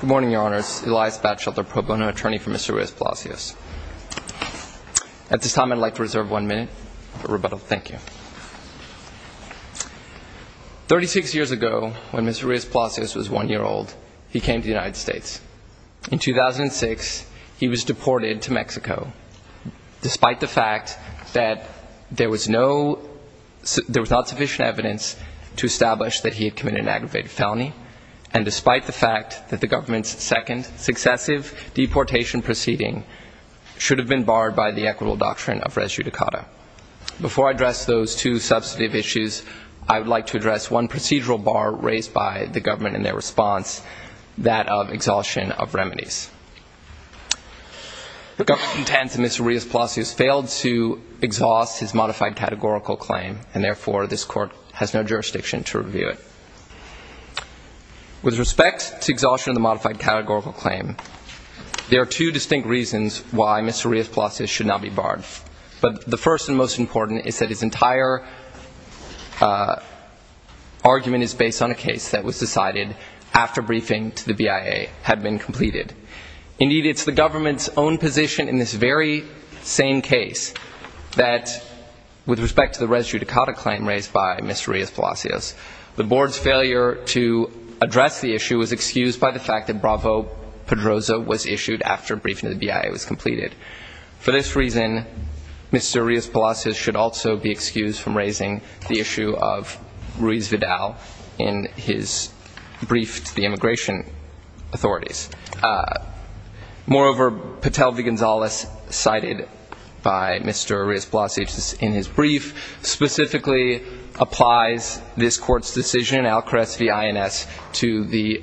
Good morning, Your Honors. Elias Batchelder, pro bono attorney for Mr. Rios-Palacios. At this time, I'd like to reserve one minute for rebuttal. Thank you. Thirty-six years ago, when Mr. Rios-Palacios was one year old, he came to the United States. In 2006, he was deported to Mexico. Despite the fact that there was no – there was not sufficient evidence to establish that he had committed an aggravated felony, and despite the fact that the government's second successive deportation proceeding should have been barred by the equitable doctrine of res judicata. Before I address those two substantive issues, I would like to address one procedural bar raised by the government in their response, that of exhaustion of remedies. The government intends that Mr. Rios-Palacios failed to exhaust his modified categorical claim, and therefore, this court has no jurisdiction to review it. With respect to exhaustion of the modified categorical claim, there are two distinct reasons why Mr. Rios-Palacios should not be barred. But the first and most important is that his entire argument is based on a case that was decided after briefing to the BIA had been completed. Indeed, it's the government's own position in this very same case that, with respect to the res judicata claim raised by Mr. Rios-Palacios, the board's failure to address the issue was excused by the fact that Bravo-Pedroza was issued after briefing to the BIA was completed. For this reason, Mr. Rios-Palacios should also be excused from raising the issue of Ruiz Vidal in his Moreover, Patel v. Gonzalez, cited by Mr. Rios-Palacios in his brief, specifically applies this court's decision, Alcarez v. INS, to the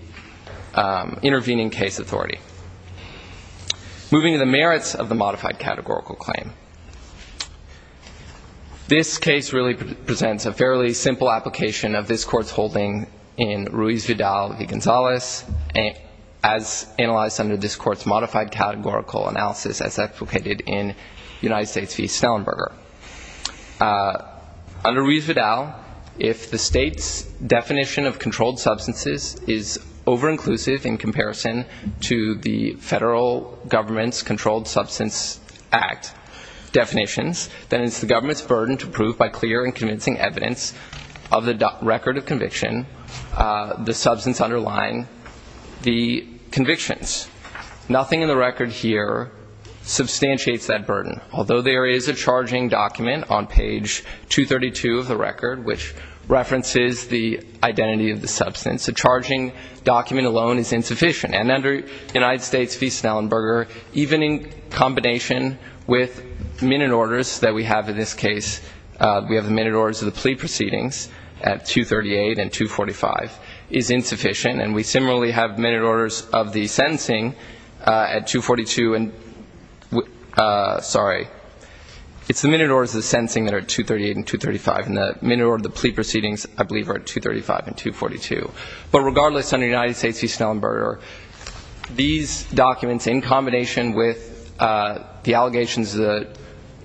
intervening case authority. Moving to the merits of the modified categorical claim. This case really presents a fairly simple application of this court's holding in Ruiz Vidal v. Gonzalez, as analyzed under this court's modified categorical analysis as advocated in United States v. Snellenberger. Under Ruiz Vidal, if the state's definition of controlled substances is over-inclusive in comparison to the federal government's Controlled Substance Act definitions, then it's the government's burden to prove by clear and convincing evidence of the record of conviction the substance underlying the convictions. Nothing in the record here substantiates that burden. Although there is a charging document on page 232 of the record which references the identity of the substance, the charging document alone is insufficient. And under United States v. Snellenberger, even in combination with minute orders that we have in this case, we have the minute orders of the plea proceedings at 238 and 245, is insufficient. And we similarly have minute orders of the sentencing at 242 and, sorry, it's the minute orders of the sentencing that are at 238 and 235, and the minute order of the plea proceedings, I believe, are at 235 and 242. But regardless, under United States v. Snellenberger, these documents in combination with the allegations that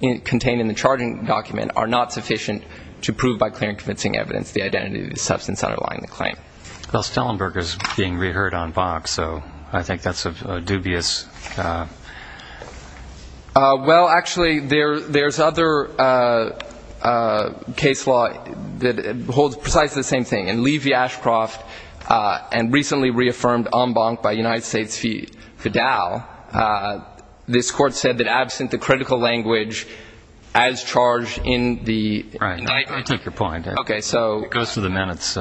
are contained in the charging document are not sufficient to prove by clear and convincing evidence the identity of the substance underlying the claim. Well, Snellenberger is being reheard on bonk, so I think that's a dubious ---- Well, actually, there's other case law that holds precisely the same thing. In Lee v. Dow, this Court said that absent the critical language as charged in the indictment ---- Right. I take your point. Okay. So ---- It goes to the minutes.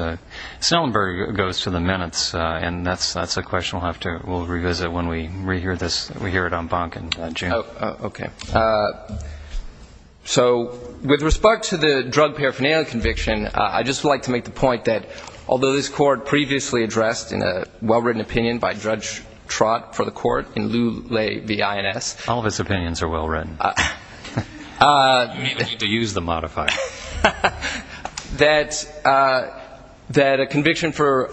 Snellenberger goes to the minutes, and that's a question we'll revisit when we rehear this, we hear it on bonk in June. Okay. So with respect to the drug paraphernalia conviction, I'd just like to make the point that although this Court previously addressed in a well-written opinion by Judge Trott for the Court in Lew Lay v. INS ---- All of its opinions are well-written. You don't even need to use the modifier. That a conviction for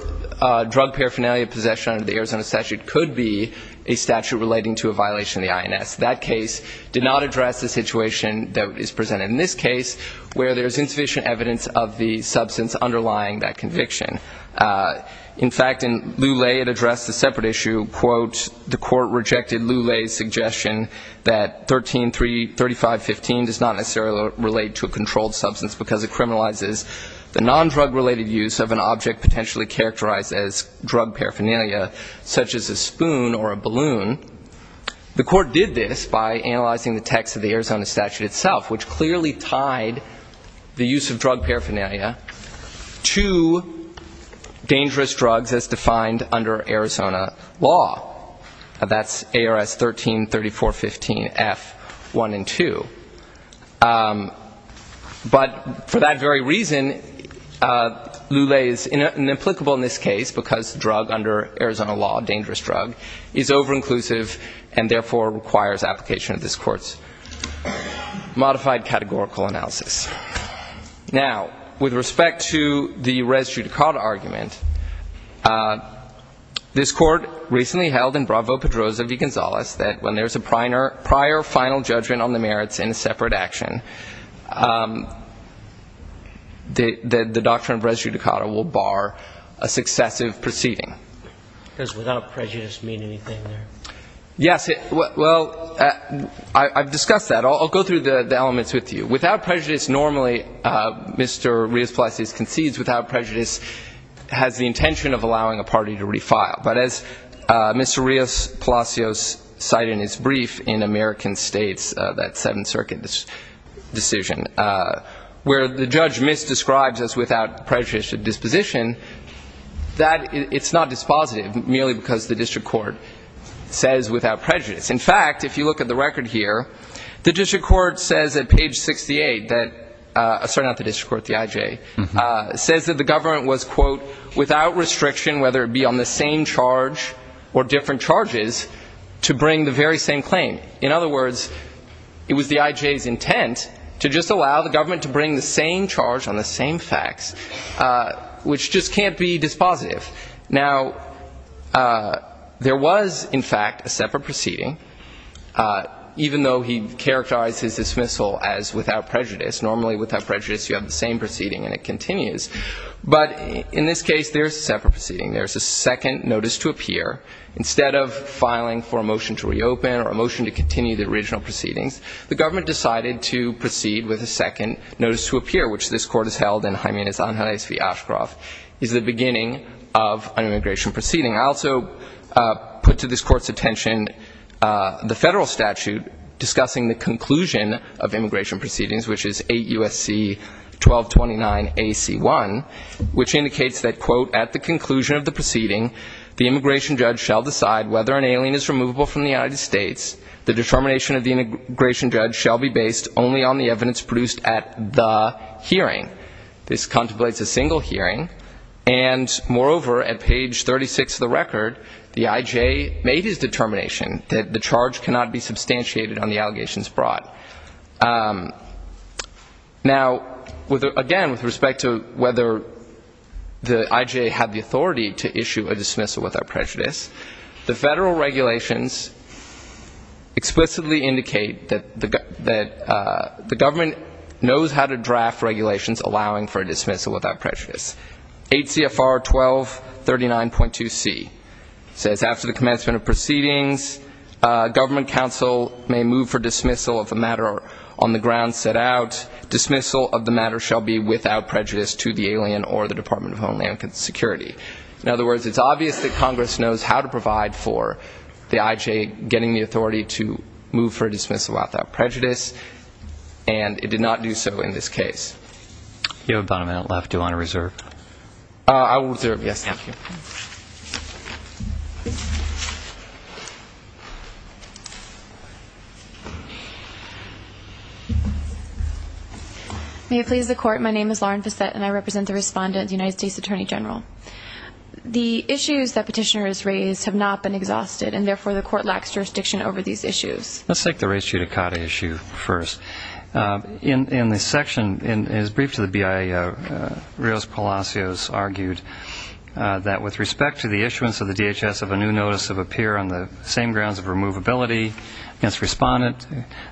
drug paraphernalia possession under the Arizona statute could be a statute relating to a violation of the INS. That case did not address the situation that is presented in this case where there's insufficient evidence of the substance underlying that conviction. In fact, in Lew Lay, it addressed a separate issue, quote, the Court rejected Lew Lay's suggestion that 133515 does not necessarily relate to a controlled substance because it criminalizes the nondrug-related use of an object potentially characterized as drug paraphernalia, such as a spoon or a balloon. The Court did this by analyzing the text of the Arizona statute itself, which clearly tied the use of drug paraphernalia to dangerous drugs as defined under Arizona law. That's ARS 133415 F1 and 2. But for that very reason, Lew Lay is inapplicable in this case because drug under Arizona law, dangerous drug, is over-inclusive and therefore requires application of this Court's modified categorical analysis. Now, with respect to the res judicata argument, this Court recently held in Bravo-Pedroza v. Gonzales that when there's a prior final judgment on the merits in a separate action, the doctrine of res judicata will bar a successive proceeding. Because without prejudice mean anything there. Yes. Well, I've discussed that. I'll go through the elements with you. Without prejudice, normally Mr. Rios-Palacios concedes without prejudice has the intention of allowing a party to refile. But as Mr. Rios-Palacios cited in his brief in American States, that Seventh Circuit decision, where the judge misdescribes as without prejudice a disposition, that, it's not dispositive merely because the district court says without prejudice. In fact, if you look at the record here, the district court says at page 68 that, sorry, not the district court, the I.J., says that the government was, quote, without restriction whether it be on the same charge or different charges to bring the very same claim. In other words, it was the I.J.'s intent to just allow the government to bring the same charge on the same facts, which just can't be dispositive. Now, there was, in fact, a separate proceeding, even though he characterized his dismissal as without prejudice. Normally without prejudice you have the same proceeding and it continues. But in this case there's a separate proceeding. There's a second notice to appear. Instead of filing for a motion to reopen or a motion to continue the original proceedings, the motion to appear, which this court has held in Hymena's Anhales v. Ashcroft, is the beginning of an immigration proceeding. I also put to this court's attention the federal statute discussing the conclusion of immigration proceedings, which is 8 U.S.C. 1229 A.C. 1, which indicates that, quote, at the conclusion of the proceeding the immigration judge shall decide whether an alien is removable from the United States. The determination of the immigration judge shall be based only on the evidence produced at the hearing. This contemplates a single hearing. And, moreover, at page 36 of the record, the I.J. made his determination that the charge cannot be substantiated on the allegations brought. Now, again, with respect to whether the I.J. had the authority to issue a dismissal without prejudice, the government knows how to draft regulations allowing for a dismissal without prejudice. 8 C.F.R. 1239.2C says, after the commencement of proceedings, government counsel may move for dismissal of a matter on the ground set out. Dismissal of the matter shall be without prejudice to the alien or the Department of Homeland Security. In other words, it's obvious that Congress knows how to provide for the I.J. getting the authority to move for a dismissal without prejudice, and it did not do so in this case. You have about a minute left. Do you want to reserve? I will reserve. Yes, thank you. May it please the Court, my name is Lauren Facette, and I represent the Respondent, the United States Attorney General. The issues that Petitioner has raised have not been exhausted, and therefore the Court lacks jurisdiction over these issues. Let's take the race judicata issue first. In the section, in his brief to the BIA, Rios Palacios argued that with respect to the issuance of the DHS of a new notice of appear on the same grounds of removability against Respondent,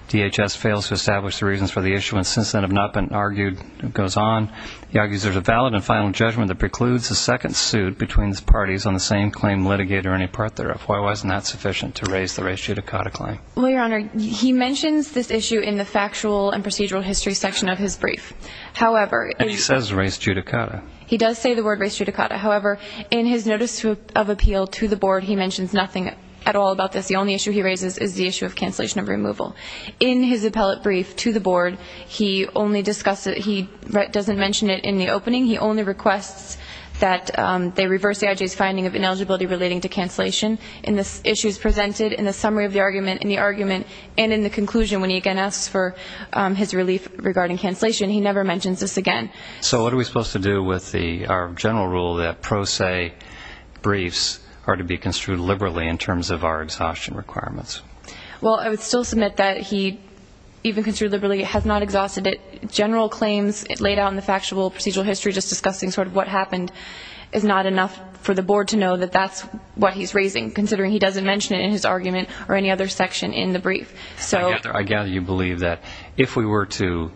DHS fails to establish the reasons for the issuance since then have not been argued. It goes on, he argues there's a valid and final judgment that precludes a second suit between these parties on the same claim litigate or any part thereof. Why wasn't that sufficient to raise the race judicata claim? Well, Your Honor, he mentions this issue in the factual and procedural history section of his brief. However, he says race judicata. He does say the word race judicata. However, in his notice of appeal to the Board, he mentions nothing at all about this. The only issue he raises is the issue of cancellation of removal. In his appellate brief to the Board, he only discusses, he doesn't mention it in the opening. He only requests that they reverse the IJ's finding of ineligibility relating to cancellation in the issues presented in the summary of the argument, in the argument, and in the conclusion when he again asks for his relief regarding cancellation. He never mentions this again. So what are we supposed to do with our general rule that pro se briefs are to be construed liberally in terms of our exhaustion requirements? Well, I would still submit that he even construed liberally has not exhausted it. General claims laid out in the factual procedural history just discussing sort of what happened is not enough for the Board to know that that's what he's raising, considering he doesn't mention it in his argument or any other section in the brief. I gather you believe that if we were to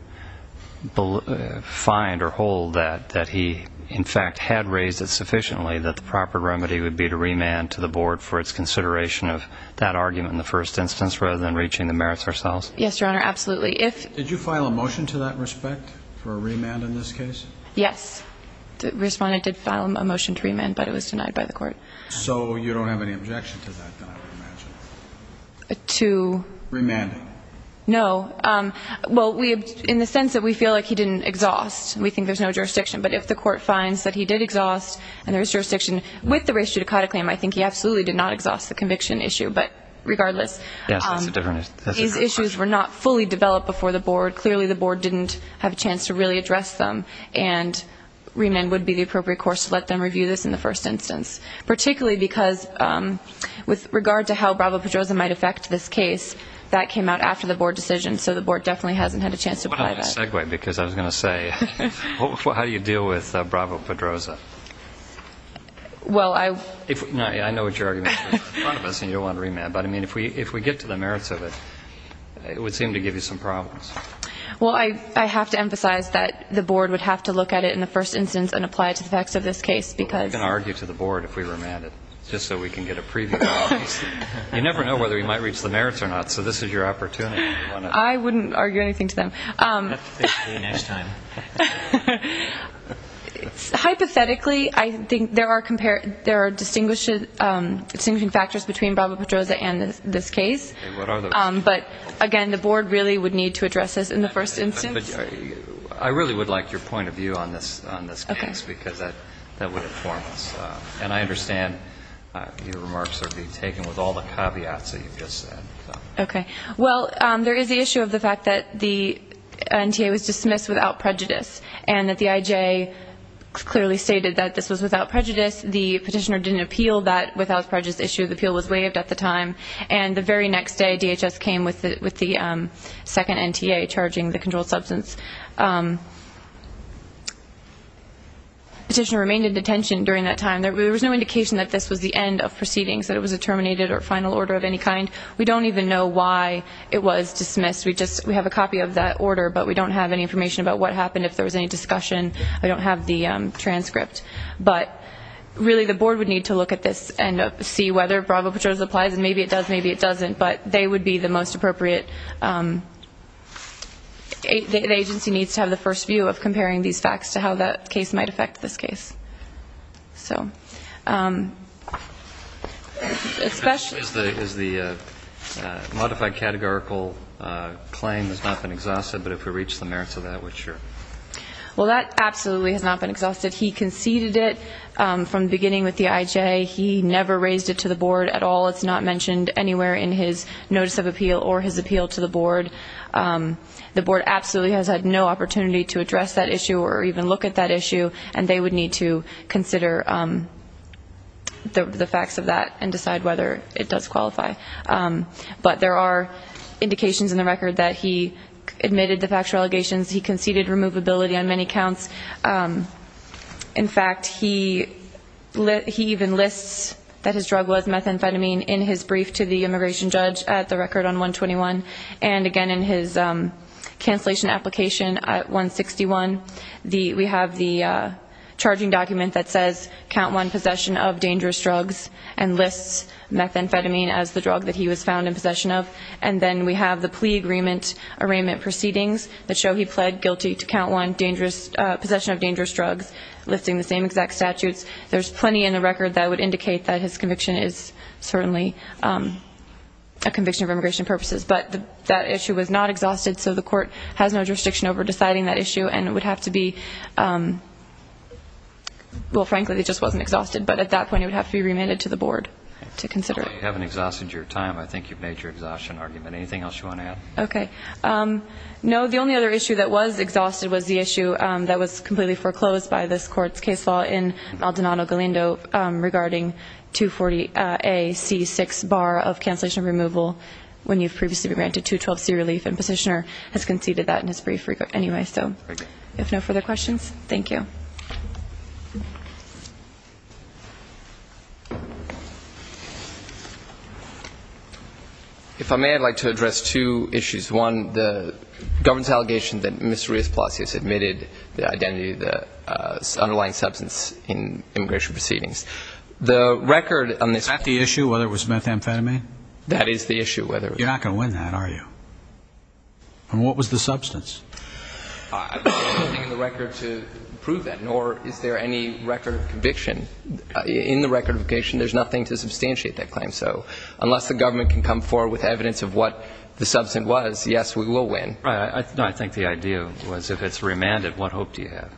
find or hold that he in fact had raised it sufficiently, that the proper remedy would be to remand to the Board for its consideration of that argument in the first instance rather than reaching the merits ourselves? Yes, Your Honor, absolutely. Did you file a motion to that respect for a remand in this case? Yes. The respondent did file a motion to remand, but it was denied by the Court. So you don't have any objection to that, then, I would imagine? To? Remand. No. Well, in the sense that we feel like he didn't exhaust, we think there's no jurisdiction. But if the Court finds that he did exhaust, and there is jurisdiction with the race judicata claim, I think he absolutely did not exhaust the conviction issue. But regardless, his issues were not fully developed before the Board. Clearly the Board didn't have a chance to really address them, and remand would be the appropriate course to let them review this in the first instance, particularly because with regard to how Bravo-Pedroza might affect this case, that came out after the Board decision, so the Board definitely hasn't had a chance to apply that. I want to segue, because I was going to say, how do you deal with Bravo-Pedroza? Well, I... I know what your argument is in front of us, and you don't want to remand, but I mean, if we get to the merits of it, it would seem to give you some problems. Well, I have to emphasize that the Board would have to look at it in the first instance and apply it to the facts of this case, because... Well, we're going to argue to the Board if we remand it, just so we can get a preview of it, obviously. You never know whether you might reach the merits or not, so this is your opportunity. I wouldn't argue anything to them. We'll have to fix it for you next time. Hypothetically, I think there are distinguishing factors between Bravo-Pedroza and this case. Okay, what are those? But again, the Board really would need to address this in the first instance. I really would like your point of view on this case, because that would inform us. And I understand your remarks are being taken with all the caveats that you've just said. Okay. Well, there is the issue of the fact that the NTA was dismissed without prejudice, and that the IJ clearly stated that this was without prejudice. The petitioner didn't appeal that without prejudice issue. The appeal was waived at the time. And the very next day, in the second instance, the petitioner remained in detention during that time. There was no indication that this was the end of proceedings, that it was a terminated or final order of any kind. We don't even know why it was dismissed. We have a copy of that order, but we don't have any information about what happened, if there was any discussion. We don't have the transcript. But really, the Board would need to look at this and see whether Bravo-Pedroza applies. And maybe it does, maybe it doesn't. But they would be the most appropriate. The agency needs to have the first view of comparing these facts to how that case might affect this case. Is the modified categorical claim has not been exhausted? But if we reach the merits of that, we're sure. Well, that absolutely has not been exhausted. He conceded it from the beginning with the anywhere in his notice of appeal or his appeal to the Board. The Board absolutely has had no opportunity to address that issue or even look at that issue. And they would need to consider the facts of that and decide whether it does qualify. But there are indications in the record that he admitted the factual allegations. He conceded removability on many counts. In fact, he even lists that his drug was methamphetamine in his brief to the immigration judge at the record on 121. And again, in his cancellation application at 161, we have the charging document that says, count one, possession of dangerous drugs, and lists methamphetamine as the drug that he was found in possession of. And then we have the plea agreement arraignment proceedings that show he pled guilty to count one, possession of dangerous drugs, listing the same exact statutes. There's plenty in the record that would indicate that his conviction is certainly a conviction of immigration purposes. But that issue was not exhausted, so the Court has no jurisdiction over deciding that issue. And it would have to be, well, frankly, it just wasn't exhausted. But at that point, it would have to be remanded to the Board to consider it. You haven't exhausted your time. I think you've made your exhaustion argument. Anything else you want to add? Okay. No, the only other issue that was exhausted was the issue that was completely foreclosed by this Court's case law in Maldonado-Galindo regarding 240A-C6 bar of cancellation removal when you've previously been granted 212C relief. And Positioner has conceded that in his brief record anyway. Thank you. So if no further questions, thank you. If I may, I'd like to address two issues. One, the government's allegation that Ms. Maldonado-Galindo was the underlying substance in immigration proceedings. The record on this ---- Is that the issue, whether it was methamphetamine? That is the issue, whether it was ---- You're not going to win that, are you? And what was the substance? I don't have anything in the record to prove that, nor is there any record of conviction. In the record of conviction, there's nothing to substantiate that claim. So unless the government can come forward with evidence of what the substance was, yes, we will win. Right. I think the idea was if it's remanded, what hope do you have?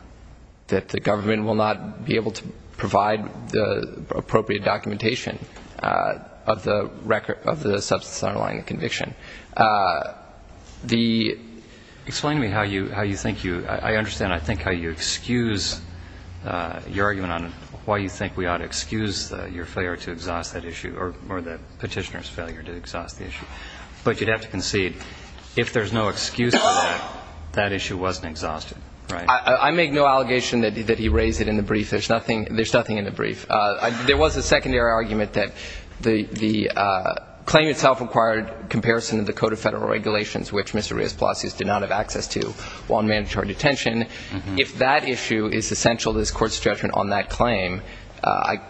That the government will not be able to provide the appropriate documentation of the record of the substance underlying the conviction. The ---- Explain to me how you think you ---- I understand, I think, how you excuse your argument on why you think we ought to excuse your failure to exhaust that issue or the Petitioner's failure to exhaust the issue. But you'd have to concede, if there's no excuse for that, that issue wasn't exhausted, right? I make no allegation that he raised it in the brief. There's nothing in the brief. There was a secondary argument that the claim itself required comparison of the Code of Federal Regulations, which Mr. Rios-Palacios did not have access to while in mandatory detention. If that issue is essential to this Court's judgment on that claim,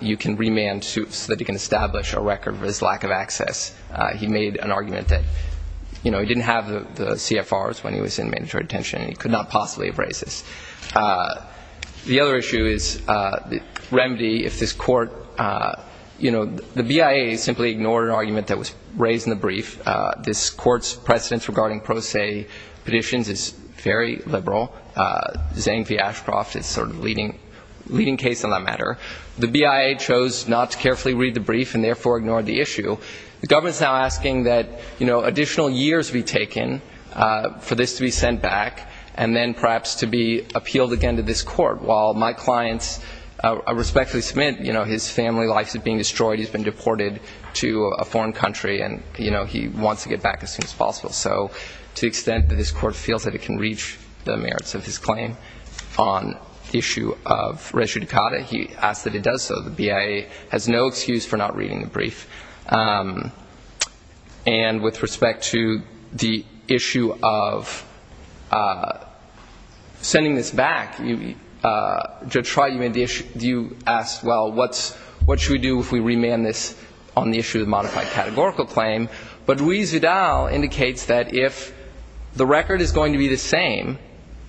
you can remand him so that he can establish a record of his lack of access. He made an argument that he didn't have the CFRs when he was in mandatory detention and he could not possibly have raised this. The other issue is the remedy if this Court ---- the BIA simply ignored an argument that was raised in the brief. This Court's precedence regarding pro se petitions is very liberal. Zang v. Ashcroft is sort of the leading case on that matter. The BIA chose not to carefully read the brief and therefore ignored the issue. The government is now asking that additional years be taken for this to be sent back and then perhaps to be appealed again to this Court, while my clients respectfully submit his family life is being destroyed, he's been deported to a foreign country, and he wants to get back as soon as possible. So to the merits of his claim on the issue of res judicata, he asks that it does so. The BIA has no excuse for not reading the brief. And with respect to the issue of sending this back, Judge Schreier, you asked, well, what should we do if we remand this on the issue of modified categorical claim? But Ruiz-Zudal indicates that if the record is going to be the same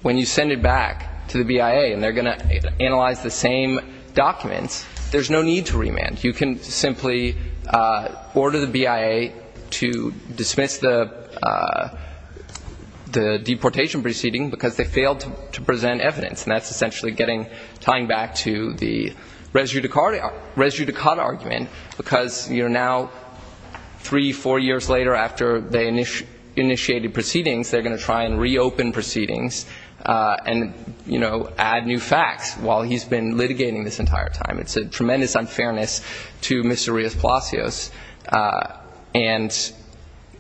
when you send it back to the BIA and they're going to analyze the same documents, there's no need to remand. You can simply order the BIA to dismiss the deportation proceeding because they failed to present evidence, and that's essentially tying back to the res judicata argument, because you're now three, four years later after they initiated proceedings, they're going to try and reopen proceedings and, you know, add new facts while he's been litigating this entire time. It's a tremendous unfairness to Mr. Ruiz-Palacios and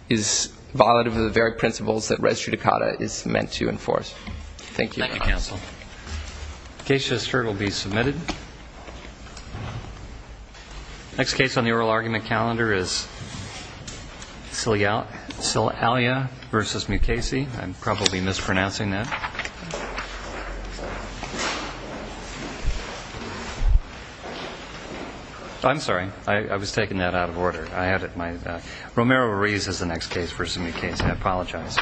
is violative of the very principles that res judicata is meant to enforce. Thank you. Thank you, counsel. Case just heard will be submitted. Next case on the oral argument calendar is Salia v. Mukasey. I'm probably mispronouncing that. I'm sorry. I was taking that out of order. Romero Ruiz is the next case v. Mukasey. I apologize.